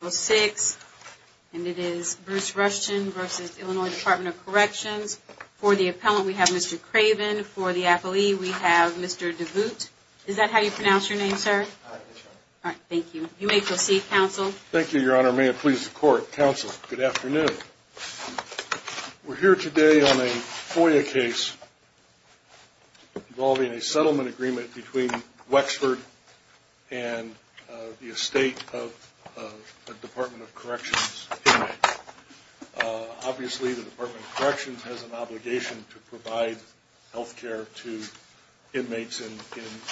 For the appellant, we have Mr. Craven. For the appellee, we have Mr. DeVoot. Is that how you pronounce your name, sir? All right, thank you. You may proceed, counsel. Thank you, Your Honor. May it please the Court. Counsel, good afternoon. We're here today on a FOIA case involving a settlement agreement between Wexford and the estate of a Department of Corrections inmate. Obviously, the Department of Corrections has an obligation to provide health care to inmates in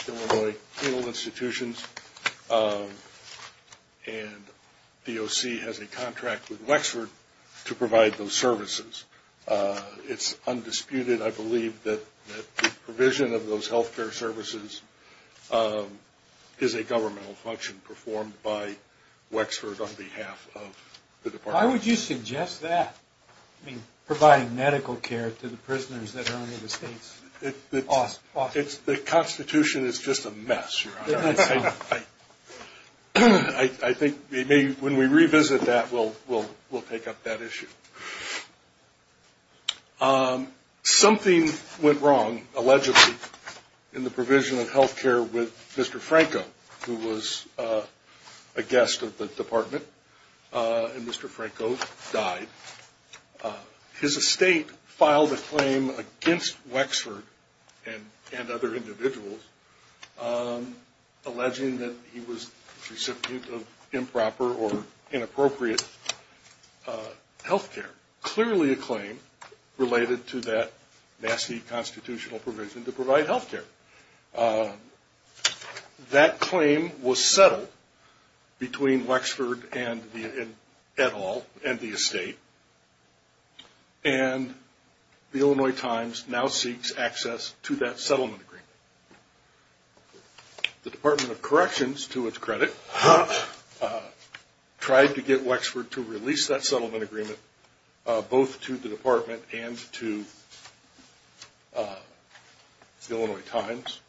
Illinois penal institutions, and DOC has a contract with Wexford to provide those services. It's undisputed, I believe, that the provision of those health care services is a governmental function performed by Wexford on behalf of the Department of Corrections. Why would you suggest that? I mean, providing medical care to the prisoners that are in the estate's office. The Constitution is just a mess, Your Honor. I think when we revisit that, we'll take up that issue. Something went wrong, allegedly, in the provision of health care with Mr. Franco, who was a guest of the Department, and Mr. Franco died. His estate filed a claim against Wexford and other individuals, alleging that he was the recipient of improper or inappropriate health care. Clearly a claim related to that nasty constitutional provision to provide health care. That claim was settled between Wexford and the estate, and the Illinois Times now seeks access to that settlement agreement. The Department of Corrections, to its credit, tried to get Wexford to release that settlement agreement both to the Department and to the Illinois Times,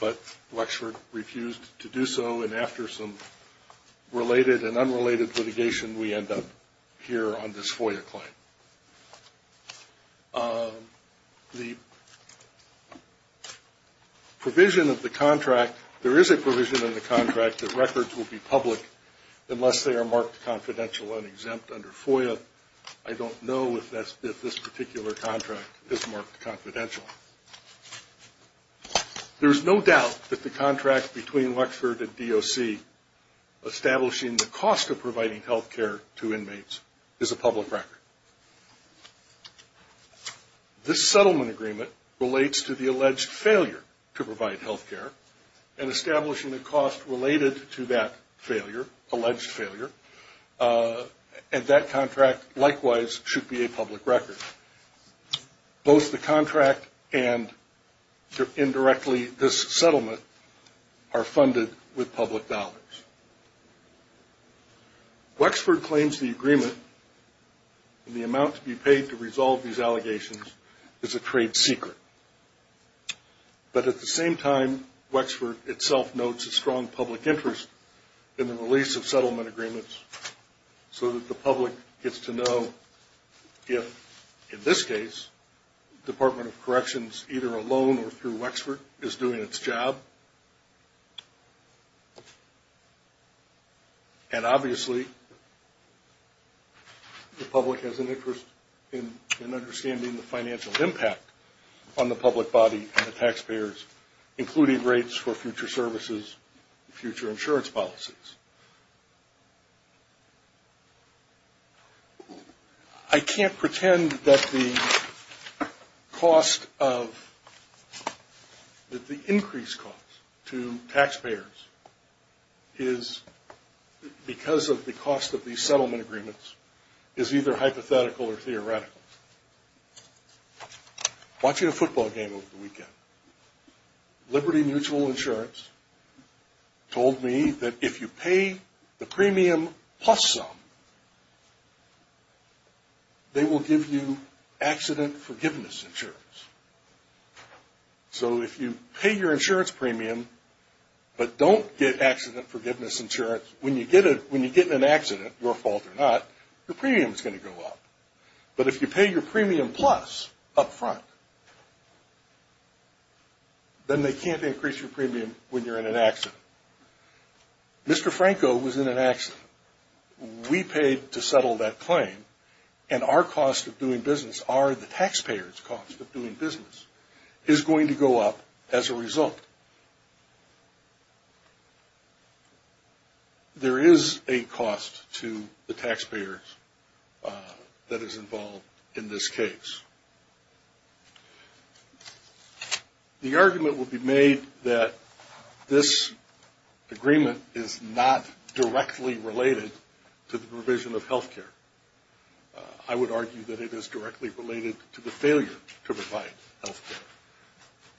but Wexford refused to do so, and after some related and unrelated litigation, we end up here on this FOIA claim. The provision of the contract, there is a provision in the contract that records will be public unless they are marked confidential and exempt under FOIA. I don't know if this particular contract is marked confidential. There is no doubt that the contract between Wexford and DOC establishing the cost of providing health care to inmates is a public record. This settlement agreement relates to the alleged failure to provide health care, and establishing the cost related to that failure, alleged failure, and that contract likewise should be a public record. Both the contract and indirectly this settlement are funded with public dollars. Wexford claims the agreement and the amount to be paid to resolve these allegations is a trade secret, but at the same time, Wexford itself notes a strong public interest in the release of settlement agreements, so that the public gets to know if, in this case, Department of Corrections, either alone or through Wexford, is doing its job. And obviously, the public has an interest in understanding the financial impact on the public body and the taxpayers, including rates for future services, future insurance policies. I can't pretend that the cost of, that the increased cost to taxpayers is because of the cost of these settlement agreements is either hypothetical or theoretical. Watching a football game over the weekend, Liberty Mutual Insurance told me that if you pay the premium plus some, they will give you accident forgiveness insurance. So if you pay your insurance premium, but don't get accident forgiveness insurance, when you get an accident, your fault or not, your premium is going to go up. But if you pay your premium plus up front, then they can't increase your premium when you're in an accident. Mr. Franco was in an accident. We paid to settle that claim, and our cost of doing business, our, the taxpayers' cost of doing business, is going to go up as a result. There is a cost to the taxpayers that is involved in this case. The argument would be made that this agreement is not directly related to the provision of health care. I would argue that it is directly related to the failure to provide health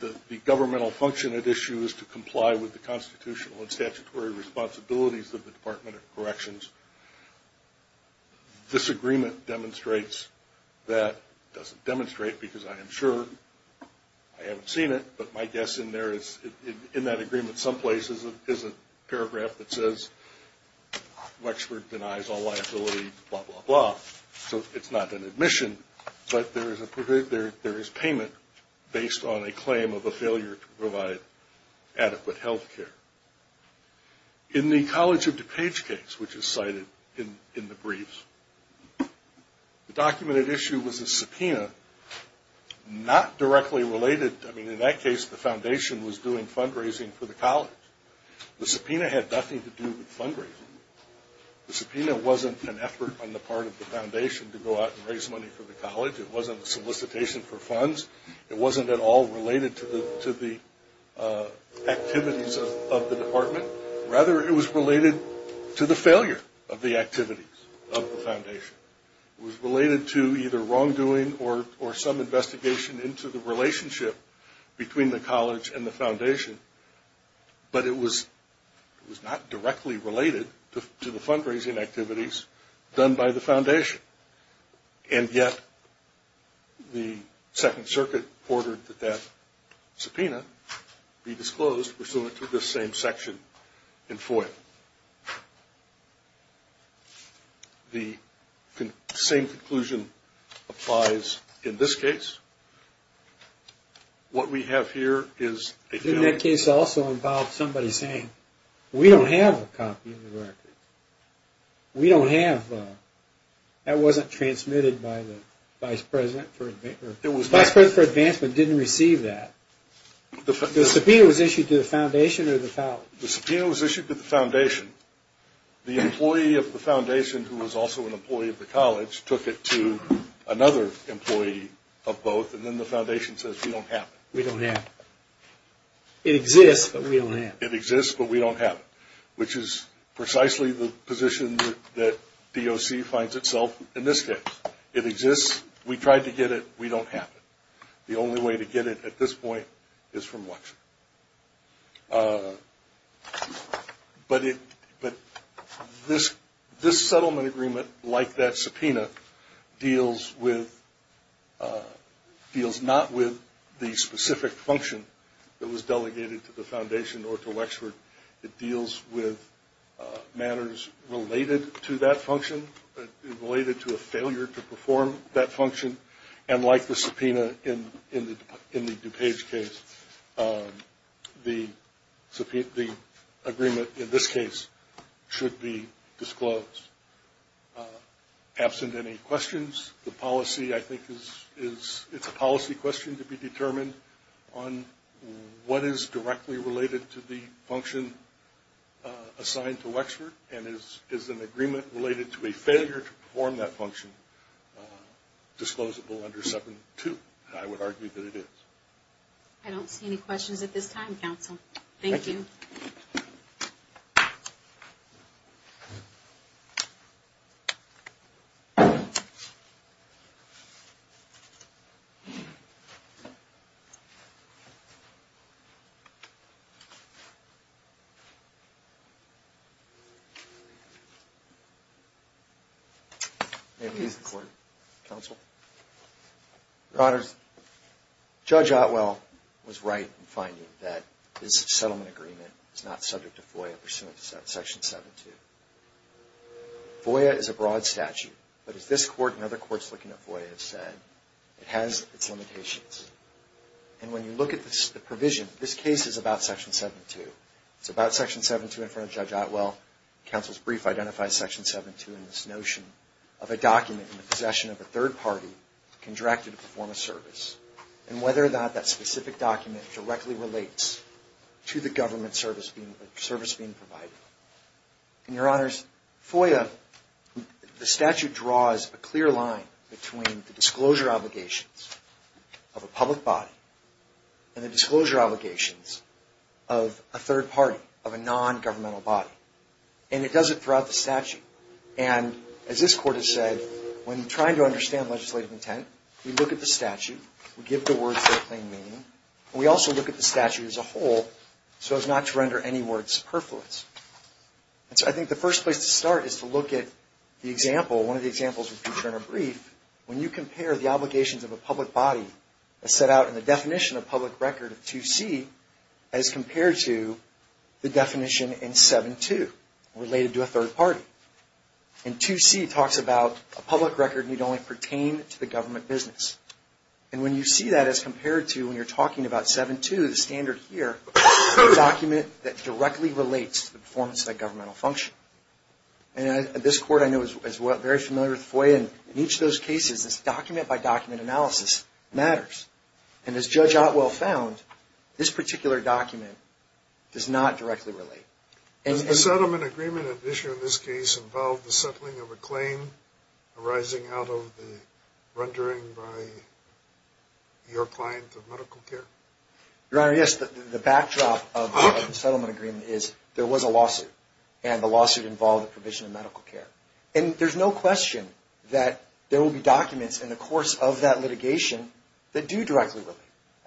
care. The governmental function at issue is to comply with the constitutional and statutory responsibilities of the Department of Corrections. This agreement demonstrates that, doesn't demonstrate because I am sure, I haven't seen it, but my guess in there is, in that agreement someplace, is a paragraph that says Wexford denies all liability, blah, blah, blah. So it's not an admission, but there is payment based on a claim of a failure to provide adequate health care. In the College of DuPage case, which is cited in the briefs, the documented issue was a subpoena not directly related. I mean, in that case, the foundation was doing fundraising for the college. The subpoena had nothing to do with fundraising. The subpoena wasn't an effort on the part of the foundation to go out and raise money for the college. It wasn't a solicitation for funds. It wasn't at all related to the activities of the department. Rather, it was related to the failure of the activities of the foundation. It was related to either wrongdoing or some investigation into the relationship between the college and the foundation, but it was not directly related to the fundraising activities done by the foundation. And yet, the Second Circuit ordered that that subpoena be disclosed pursuant to this same section of the Act. The same conclusion applies in this case. What we have here is a failure... In that case also involved somebody saying, we don't have a copy of the record. That wasn't transmitted by the Vice President for Advancement. The subpoena was issued to the foundation. The employee of the foundation, who was also an employee of the college, took it to another employee of both. And then the foundation says, we don't have it. It exists, but we don't have it. Which is precisely the position that DOC finds itself in this case. It exists. We tried to get it. We don't have it. But this settlement agreement, like that subpoena, deals not with the specific function that was delegated to the foundation or to Wexford. It deals with matters related to that function, related to a failure to perform that function. And like the subpoena in the DuPage case, the agreement in this case should be disclosed. Absent any questions, the policy, I think, is... on what is directly related to the function assigned to Wexford and is an agreement related to a failure to perform that function, disclosable under subpoena 2. I would argue that it is. I don't see any questions at this time, counsel. Thank you. May it please the Court, counsel? Your Honors, Judge Otwell was right in finding that this settlement agreement is not subject to FOIA pursuant to Section 7-2. FOIA is a broad statute, but as this Court and other courts looking at FOIA have said, it has its limitations. And when you look at the provision, this case is about Section 7-2. It's about Section 7-2 in front of Judge Otwell. Counsel's brief identifies Section 7-2 in this notion of a document in the possession of a third party contracted to perform a service, and whether or not that specific document directly relates to the government service being provided. And Your Honors, FOIA, the statute draws a clear line between the disclosure obligations of a public body and the disclosure obligations of a third party, of a non-governmental body. And it does it throughout the statute. And as this Court has said, when trying to understand the statute as a whole, so as not to render any words superfluous. And so I think the first place to start is to look at the example, one of the examples of future in a brief. When you compare the obligations of a public body as set out in the definition of public record of 2C as compared to the definition in 7-2 related to a third party. And 2C talks about a public record need only pertain to the government business. And when you see that as compared to when you're talking about 7-2, the standard here, a document that directly relates to the performance of that governmental function. And this Court, I know, is very familiar with FOIA, and in each of those cases, this document-by-document analysis matters. And as Judge Otwell found, this particular document does not directly relate. Does the settlement agreement at issue in this case involve the settling of a claim arising out of the rendering by your client of medical care? Your Honor, yes. The backdrop of the settlement agreement is there was a lawsuit, and the lawsuit involved a provision of medical care. And there's no question that there will be documents in the course of that litigation that do directly relate.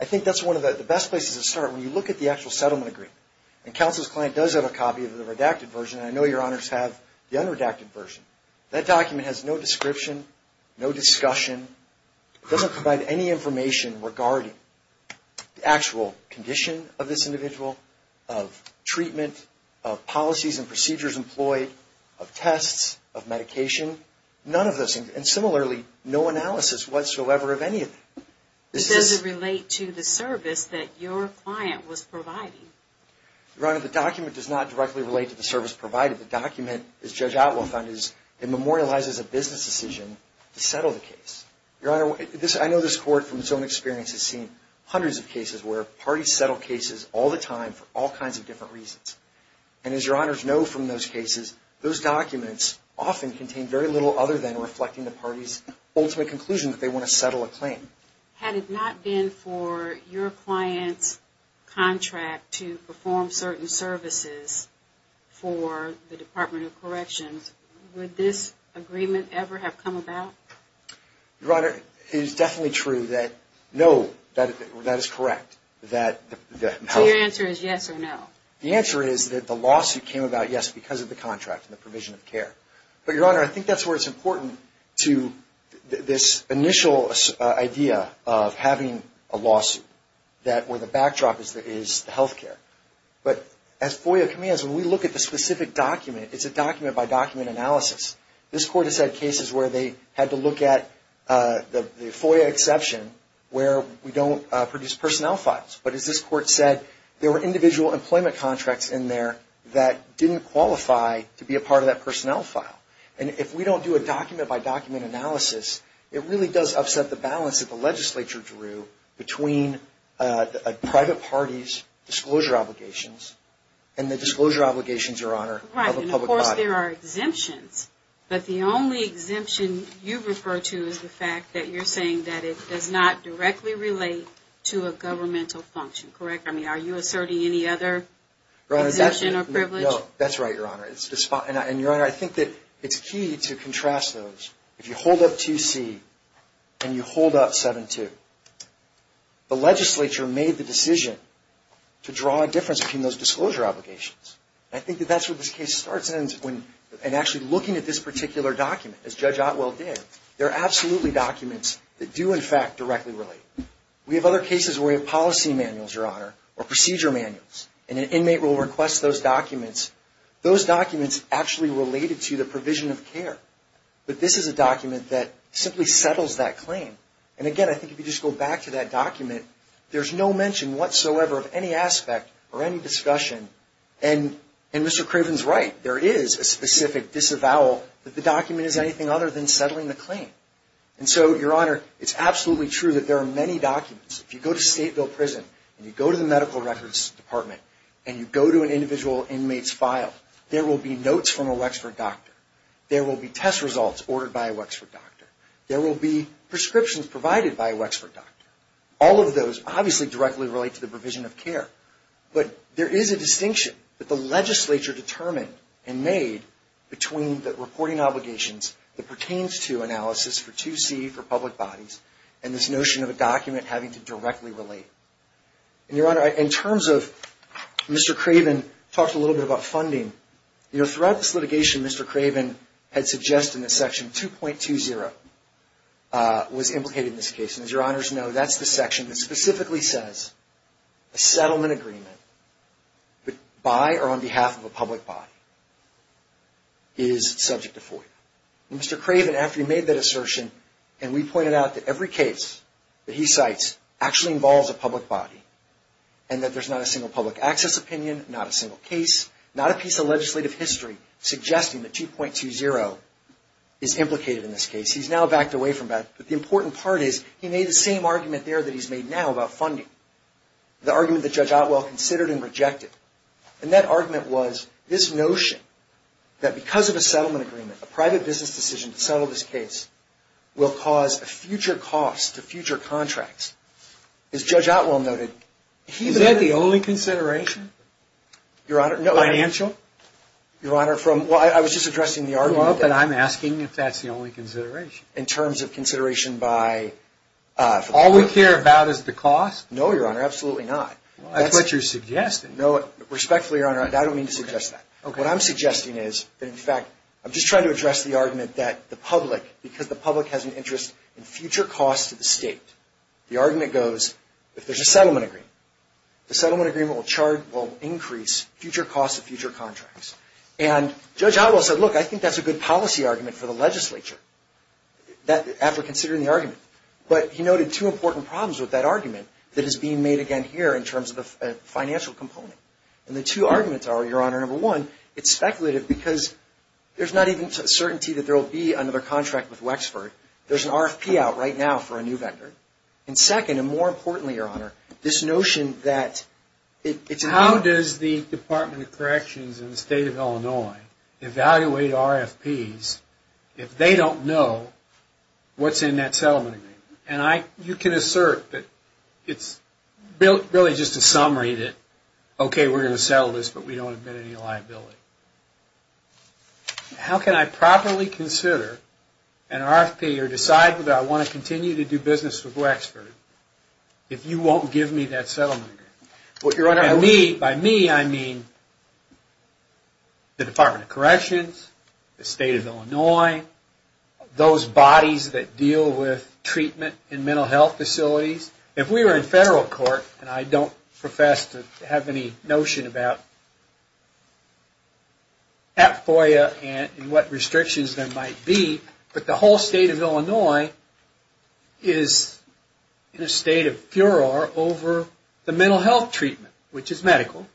I think that's one of the best places to start when you look at the actual settlement agreement. And counsel's client does have a copy of the redacted version, and I know your Honors have the unredacted version. That document has no description, no discussion. It doesn't provide any information regarding the actual condition of this individual, of treatment, of policies and procedures employed, of tests, of medication. None of those things. And similarly, no analysis whatsoever of anything. Does it relate to the service that your client was providing? Your Honor, the document does not directly relate to the service provided. The document, as Judge Otwell found, memorializes a business decision to settle the case. Your Honor, I know this Court from its own experience has seen hundreds of cases where parties settle cases all the time for all kinds of different reasons. And as your Honors know from those cases, those documents often contain very little other than reflecting the party's ultimate conclusion that they want to settle a claim. Had it not been for your client's contract to perform certain services for the Department of Corrections, would this agreement ever have come about? Your Honor, it is definitely true that no, that is correct. So your answer is yes or no? The answer is that the lawsuit came about, yes, because of the contract and the provision of care. But, Your Honor, I think that's where it's important to this initial idea of having a lawsuit, where the backdrop is the health care. But as FOIA commands, when we look at the specific document, it's a document-by-document analysis. This Court has had cases where they had to look at the FOIA exception where we don't produce personnel files. But as this Court said, there were individual employment contracts in there that didn't qualify to be a part of that personnel file. And if we don't do a document-by-document analysis, it really does upset the balance that the legislature drew between a private party's disclosure obligations and the disclosure obligations, Your Honor, of a public body. Of course, there are exemptions, but the only exemption you refer to is the fact that you're saying that it does not directly relate to a governmental function, correct? I mean, are you asserting any other exemption or privilege? No, that's right, Your Honor. And, Your Honor, I think that it's key to contrast those. If you hold up 2C and you hold up 7-2, the legislature made the decision to draw a difference between those disclosure obligations. And I think that that's where this case starts, and actually looking at this particular document, as Judge Otwell did, there are absolutely documents that do, in fact, directly relate. We have other cases where we have policy manuals, Your Honor, or procedure manuals, and an inmate will request those documents. Those documents actually related to the provision of care. But this is a document that simply settles that claim. And, again, I think if you just go back to that document, there's no mention whatsoever of any aspect or any discussion as to whether or not it relates to the provision of care. And Mr. Craven's right. There is a specific disavowal that the document is anything other than settling the claim. And so, Your Honor, it's absolutely true that there are many documents. If you go to Stateville Prison, and you go to the Medical Records Department, and you go to an individual inmate's file, there will be notes from a Wexford doctor. There will be test results ordered by a Wexford doctor. There will be prescriptions provided by a Wexford doctor. All of those obviously directly relate to the provision of care. But there is a distinction that the legislature determined and made between the reporting obligations that pertains to analysis for 2C for public bodies and this notion of a document having to directly relate. And, Your Honor, in terms of Mr. Craven talked a little bit about funding, you know, throughout this litigation, Mr. Craven had suggested in this section 2.20 was implicated in this case. And as Your Honors know, that's the section that specifically says a settlement agreement by or on behalf of a public body is subject to FOIA. And Mr. Craven, after he made that assertion, and we pointed out that every case that he cites actually involves a public body, and that there's not a single public access opinion, not a single case, not a piece of legislative history suggesting that 2.20 is implicated in this case. He's now backed away from that, but the important part is he made the same argument there that he's made now about funding, the argument that Judge Otwell considered and rejected. And that argument was this notion that because of a settlement agreement, a private business decision to settle this case will cause a future cost to future contracts. As Judge Otwell noted, he... Is that the only consideration? Your Honor, no. Financial? Your Honor, from... Well, but I'm asking if that's the only consideration. In terms of consideration by... All we care about is the cost? No, Your Honor, absolutely not. That's what you're suggesting. Respectfully, Your Honor, I don't mean to suggest that. What I'm suggesting is that, in fact, I'm just trying to address the argument that the public, because the public has an interest in future costs to the state, the argument goes, if there's a settlement agreement, the settlement agreement will increase future costs to future contracts. And Judge Otwell said, look, I think that's a good policy argument for the legislature, after considering the argument. But he noted two important problems with that argument that is being made again here in terms of the financial component. And the two arguments are, Your Honor, number one, it's speculative because there's not even certainty that there will be another contract with Wexford. There's an RFP out right now for a new vendor. And second, and more importantly, Your Honor, this notion that... How does the Department of Corrections in the state of Illinois evaluate RFPs if they don't know what's in that settlement agreement? And you can assert that it's really just a summary that, okay, we're going to settle this, but we don't admit any liability. How can I properly consider an RFP or decide that I want to continue to do business with Wexford if you won't give me that settlement agreement? And by me, I mean the Department of Corrections, the state of Illinois, those bodies that deal with treatment, that deal with the state of Illinois, and mental health facilities, if we were in federal court, and I don't profess to have any notion about FOIA and what restrictions there might be, but the whole state of Illinois is in a state of furor over the mental health treatment, which is medical,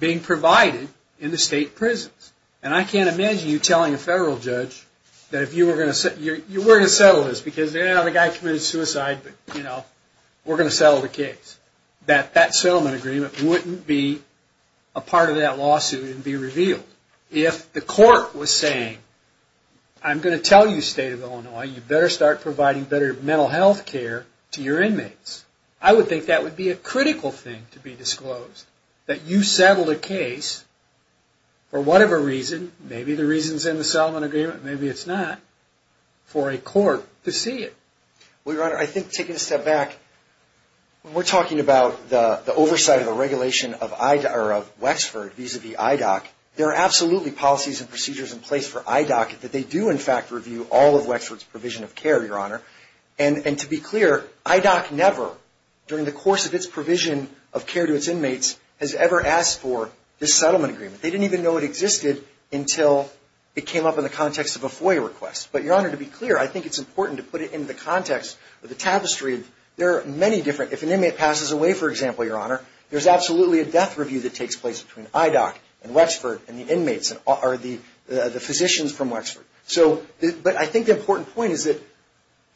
being provided in the state prisons. And I can't imagine you telling a federal judge that if you were going to... We're going to settle this, because the guy committed suicide, but we're going to settle the case. That that settlement agreement wouldn't be a part of that lawsuit and be revealed. If the court was saying, I'm going to tell you, state of Illinois, you better start providing better mental health care to your inmates, I would think that would be a critical thing to be disclosed, that you settled a case for whatever reason, maybe the reason's in the settlement agreement, maybe it's not, for a court to see it. Well, Your Honor, I think taking a step back, when we're talking about the oversight of a regulation of Wexford vis-a-vis IDOC, there are absolutely policies and procedures in place for IDOC that they do, in fact, review all of Wexford's provision of care, Your Honor. And to be clear, IDOC never, during the course of its provision of care to its inmates, has ever asked for this settlement agreement. They didn't even know it existed until it came up in the context of a FOIA request. But, Your Honor, to be clear, I think it's important to put it into the context of the tapestry of, there are many different, if an inmate passes away, for example, Your Honor, there's absolutely a death review that takes place between IDOC and Wexford and the inmates, or the physicians from Wexford. So, but I think the important point is that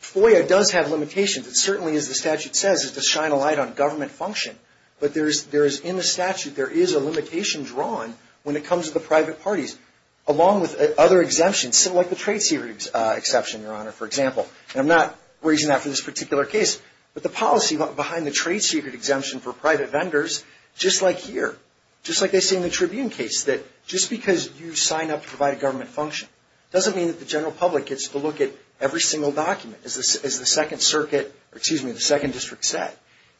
FOIA does have limitations. It certainly, as the statute says, is to shine a light on government function, but there is, in the statute, there is a limitation drawn when it comes to the private parties, along with other exemptions, like the trade secret exception, Your Honor, for example. And I'm not raising that for this particular case, but the policy behind the trade secret exemption for private vendors, just like here, just like they say in the Tribune case, that just because you sign up to provide a government function doesn't mean that the general public gets to look at every single document, as the Second Circuit, excuse me, the Second District said.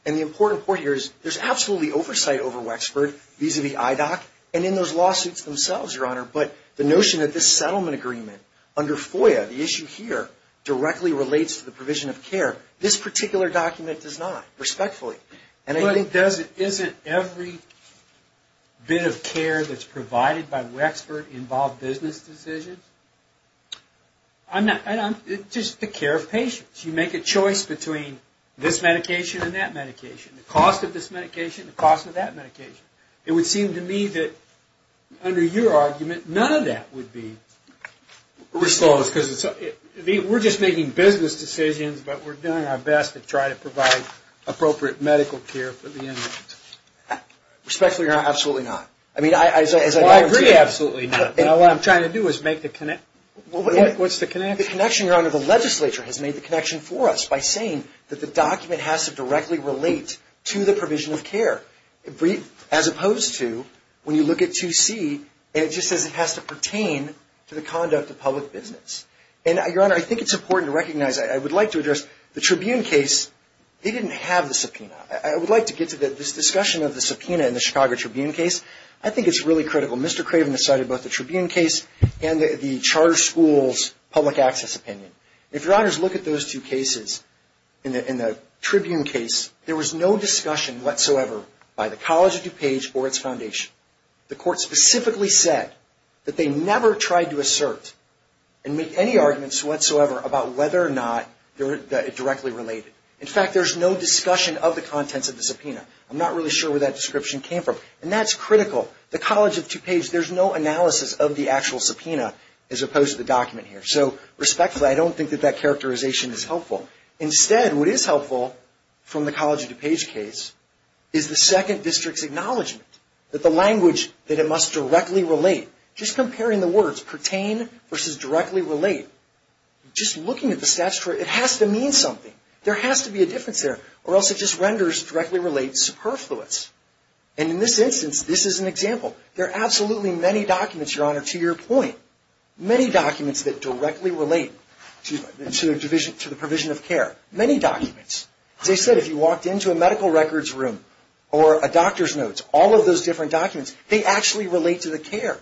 And the important point here is, there's absolutely oversight over Wexford, vis-a-vis IDOC, and in those lawsuits themselves, Your Honor, but the notion that this settlement agreement under FOIA, the issue here, directly relates to the provision of care, this particular document does not, respectfully. And I think it doesn't, isn't every bit of care that's provided by Wexford involved business decisions? Just the care of patients. You make a choice between this medication and that medication, the cost of this medication, the cost of that medication. It would seem to me that, under your argument, none of that would be resolved, because we're just making business decisions, but we're doing our best to try to provide appropriate medical care for the inmate. Respectfully, Your Honor, absolutely not. Well, I agree, absolutely not, but what I'm trying to do is make the connection. What's the connection? The connection, Your Honor, the legislature has made the connection for us by saying that the document has to directly relate to the provision of care, as opposed to, when you look at 2C, it just says it has to pertain to the conduct of public business. And, Your Honor, I think it's important to recognize, I would like to address the Tribune case, they didn't have the subpoena. I would like to get to this discussion of the subpoena in the Chicago Tribune case. I think it's really critical. Mr. Craven decided both the Tribune case and the charter school's public access opinion. If Your Honors look at those two cases in the Tribune case, there was no discussion whatsoever by the College of DuPage or its foundation. The court specifically said that they never tried to assert and make any arguments whatsoever about whether or not they were directly related. In fact, there's no discussion of the contents of the subpoena. I'm not really sure where that description came from, and that's critical. The College of DuPage, there's no analysis of the actual subpoena, as opposed to the document here. So, respectfully, I don't think that that characterization is helpful. Instead, what is helpful from the College of DuPage case is the second district's acknowledgement that the language that it must directly relate, just comparing the words pertain versus directly relate, just looking at the statutory, it has to mean something. There has to be a difference there, or else it just renders directly relate superfluous. And in this instance, this is an example. There are absolutely many documents, Your Honor, to your point, many documents that directly relate to the provision of care. Many documents. As I said, if you walked into a medical records room or a doctor's notes, all of those different documents, they actually relate to the care.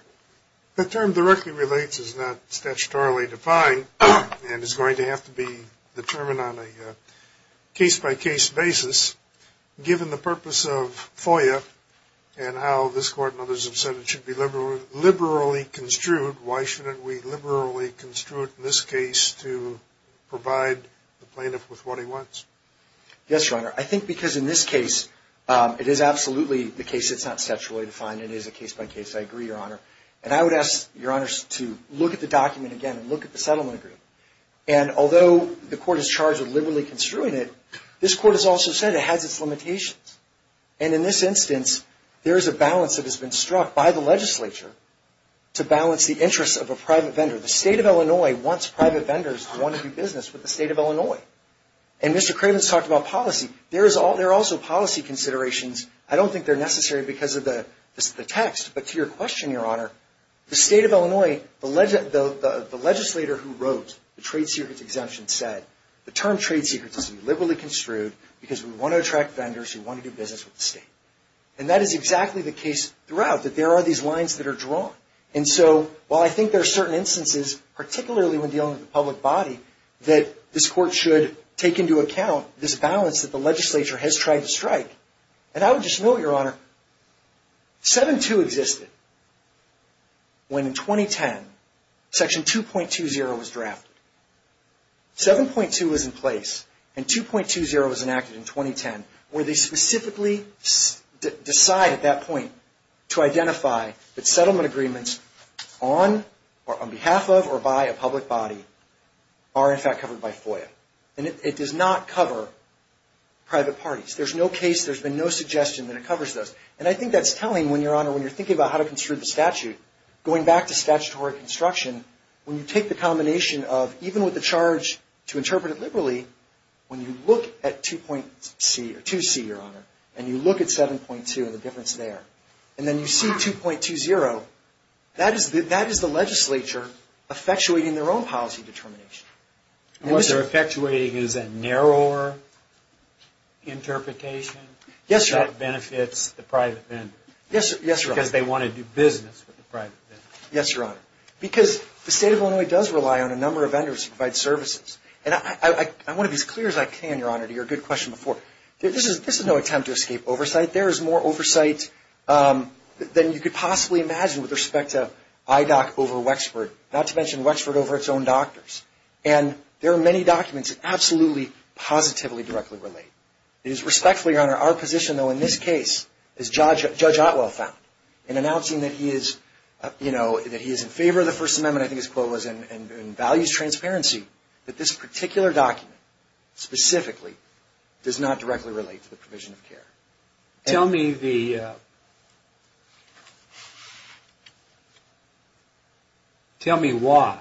The term directly relates is not statutorily defined, and is going to have to be determined on a case-by-case basis, given the purpose of FOIA and how this Court and others have said it should be liberally construed. Why shouldn't we liberally construe it in this case to provide the plaintiff with what he wants? Yes, Your Honor. I think because in this case, it is absolutely the case that's not statutorily defined. It is a case-by-case. I agree, Your Honor, and I would ask Your Honors to look at the document again and look at the settlement agreement. And although the Court is charged with liberally construing it, this Court has also said it has its limitations. And in this instance, there is a balance that has been struck by the legislature to balance the interests of a private vendor. The State of Illinois wants private vendors who want to do business with the State of Illinois. And Mr. Kravitz talked about policy. There are also policy considerations. I don't think they're necessary because of the text, but to your question, Your Honor, the State of Illinois, the legislator who wrote the trade secrets exemption said, the term trade secrets is to be liberally construed because we want to attract vendors who want to do business with the State. And that is exactly the case throughout, that there are these lines that are drawn. And so while I think there are certain instances, particularly when dealing with the public body, that this Court should take into account this balance that the legislature has tried to strike. And I would just note, Your Honor, 7-2 existed when in 2010, Section 2.20 was drafted. 7.2 was in place, and 2.20 was enacted in 2010, where they specifically decide at that point to identify that settlement agreements on behalf of or by a public body are in fact covered by FOIA. And it does not cover private parties. There's no case, there's been no suggestion that it covers those. And I think that's telling when, Your Honor, when you're thinking about how to construe the statute, going back to statutory construction, when you take the combination of even with the charge to interpret it liberally, when you look at 2C, Your Honor, and you look at 7.2 and the difference there, and then you see 2.20, that is the legislature effectuating their own policy determination. And what they're effectuating is a narrower interpretation? Yes, Your Honor. That benefits the private vendor. Yes, Your Honor. Because they want to do business with the private vendor. Yes, Your Honor. Because the State of Illinois does rely on a number of vendors to provide services. And I want to be as clear as I can, Your Honor, to your good question before. This is no attempt to escape oversight. There is more oversight than you could possibly imagine with respect to IDOC over Wexford, not to mention Wexford over its own doctors. And there are many documents that absolutely, positively, directly relate. It is respectfully, Your Honor, our position, though, in this case, as Judge Otwell found, in announcing that he is in favor of the First Amendment, I think his quote was, and values transparency, that this particular document, specifically, does not directly relate to the provision of care. Tell me why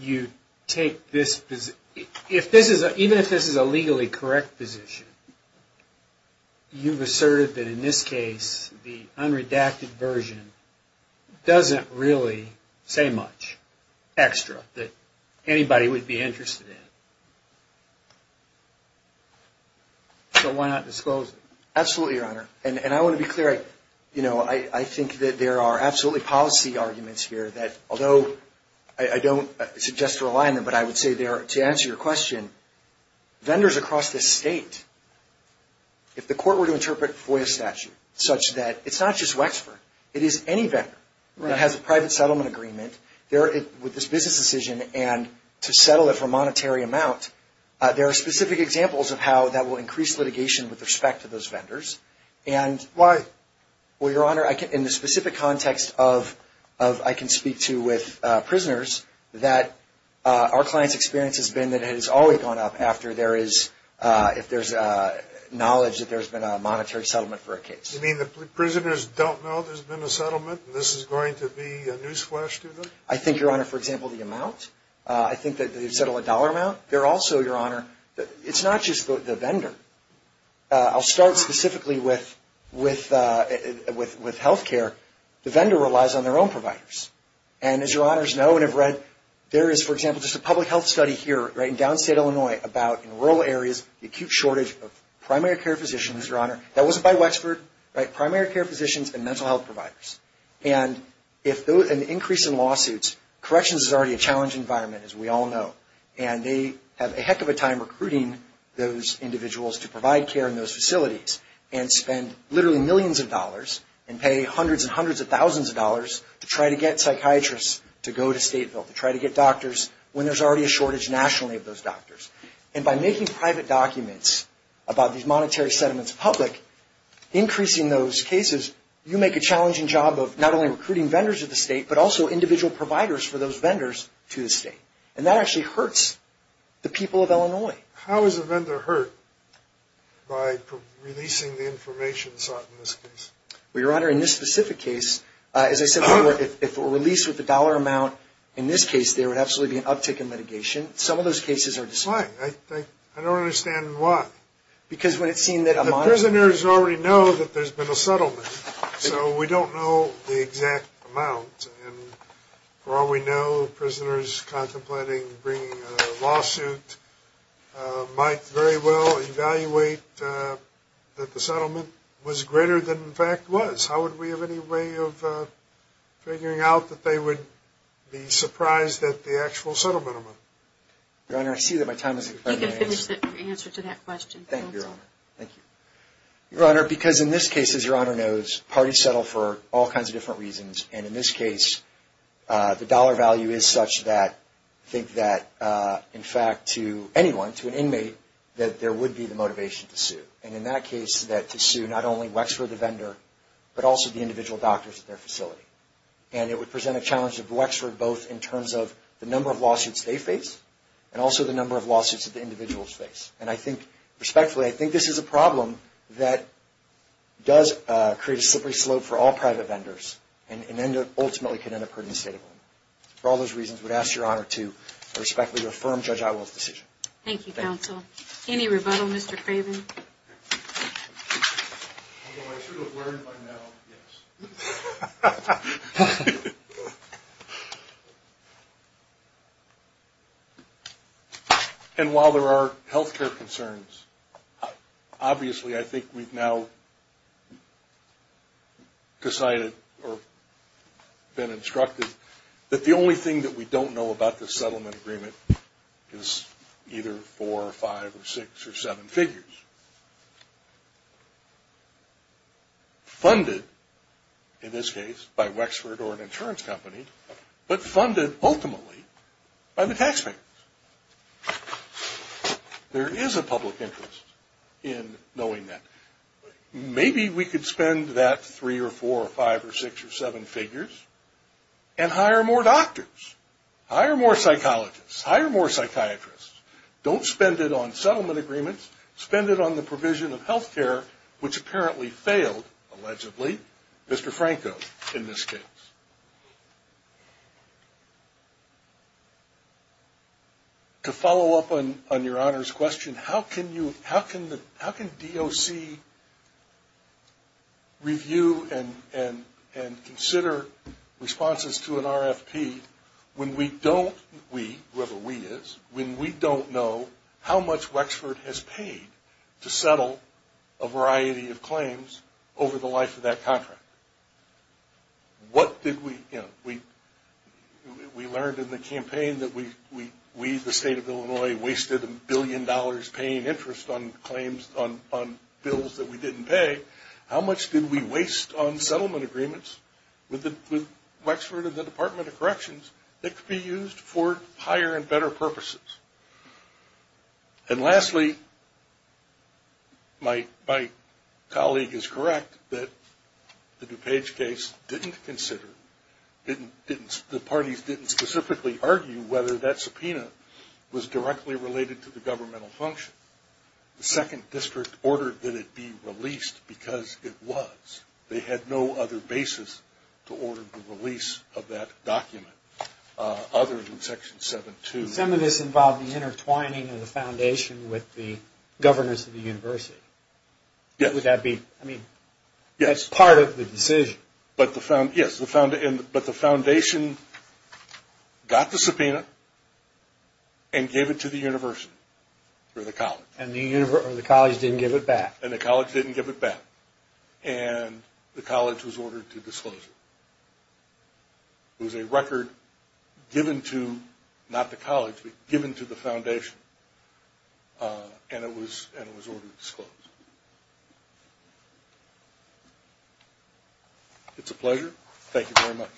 you take this position. Even if this is a legally correct position, you've asserted that in this case, the unredacted version doesn't really say much extra that anybody would be interested in. So why not disclose it? Absolutely, Your Honor. And I want to be clear. I think that there are absolutely policy arguments here that, although I don't suggest to rely on them, but I would say there, to answer your question, vendors across the state, if the court were to interpret FOIA statute such that it's not just Wexford, it is any vendor that has a private settlement agreement with this business decision and to settle it for a monetary amount, there are specific examples of how that will increase litigation with respect to those vendors. Why? Well, Your Honor, in the specific context of, I can speak to with prisoners, that our client's experience has been that it has always gone up after there is, if there's knowledge that there's been a monetary settlement for a case. You mean the prisoners don't know there's been a settlement and this is going to be a newsflash to them? I think, Your Honor, for example, the amount, I think that they've settled a dollar amount. They're also, Your Honor, it's not just the vendor. I'll start specifically with health care. The vendor relies on their own providers. And as Your Honors know and have read, there is, for example, just a public health study here in downstate Illinois about, in rural areas, the acute shortage of primary care physicians, Your Honor. That wasn't by Wexford, right? Primary care physicians and mental health providers. And if there was an increase in lawsuits, corrections is already a challenging environment, as we all know. And they have a heck of a time recruiting those individuals to provide care in those facilities and spend literally millions of dollars and pay hundreds and hundreds of thousands of dollars to try to get psychiatrists to go to Stateville to try to get doctors when there's already a shortage nationally of those doctors. And by making private documents about these monetary settlements public, increasing those cases, you make a challenging job of not only recruiting vendors to the state, but also individual providers for those vendors to the state. And that actually hurts the people of Illinois. How is a vendor hurt by releasing the information sought in this case? Well, Your Honor, in this specific case, as I said before, if a release with a dollar amount, in this case there would absolutely be an uptick in litigation. Some of those cases are just fine. I don't understand why. The prisoners already know that there's been a settlement, so we don't know the exact amount. And for all we know, prisoners contemplating bringing a lawsuit might very well evaluate that the settlement was greater than it in fact was. How would we have any way of figuring out that they would be surprised at the actual settlement amount? Your Honor, I see that my time has expired. Your Honor, because in this case, as Your Honor knows, parties settle for all kinds of different reasons. And in this case, the dollar value is such that I think that in fact to anyone, to an inmate, that there would be the motivation to sue. And in that case, to sue not only Wexford the vendor, but also the individual doctors at their facility. And it would present a challenge to Wexford both in terms of the number of lawsuits they face, and also the number of lawsuits that the individuals face. And I think, respectfully, I think this is a problem that does create a slippery slope for all private vendors, and ultimately could end up hurting the state of Illinois. For all those reasons, I would ask Your Honor to respectfully affirm Judge Iwell's decision. Thank you, counsel. Any rebuttal, Mr. Craven? Although I should have learned by now, yes. And while there are healthcare concerns, obviously I think we've now decided, or been instructed, that the only thing that we don't know about this settlement agreement is either four or five or six or seven figures. Funded, in this case, by Wexford or an insurance company, but funded ultimately by the taxpayers. There is a public interest in knowing that. Maybe we could spend that three or four or five or six or seven figures and hire more doctors, hire more psychologists, hire more psychiatrists. Don't spend it on settlement agreements. Spend it on the provision of healthcare, which apparently failed, allegedly. Mr. Franco, in this case. To follow up on Your Honor's question, how can DOC review and consider responses to an RFP when we don't, we, whoever we is, when we don't know how much Wexford has paid to settle a variety of claims over the life of that contract? We learned in the campaign that we, the state of Illinois, wasted a billion dollars paying interest on claims, on bills that we didn't pay. How much did we waste on settlement agreements with Wexford and the Department of Corrections that could be used for higher and better purposes? And lastly, my colleague is correct that the DuPage case didn't consider, the parties didn't specifically argue whether that subpoena was directly related to the governmental function. The second district ordered that it be released because it was. They had no other basis to order the release of that document other than Section 7-2. Some of this involved the intertwining of the foundation with the governors of the university. Yes. But the foundation got the subpoena and gave it to the university or the college. And the college didn't give it back. And the college was ordered to disclose it. It was a record given to, not the college, but given to the foundation. And it was ordered disclosed. It's a pleasure. Thank you very much.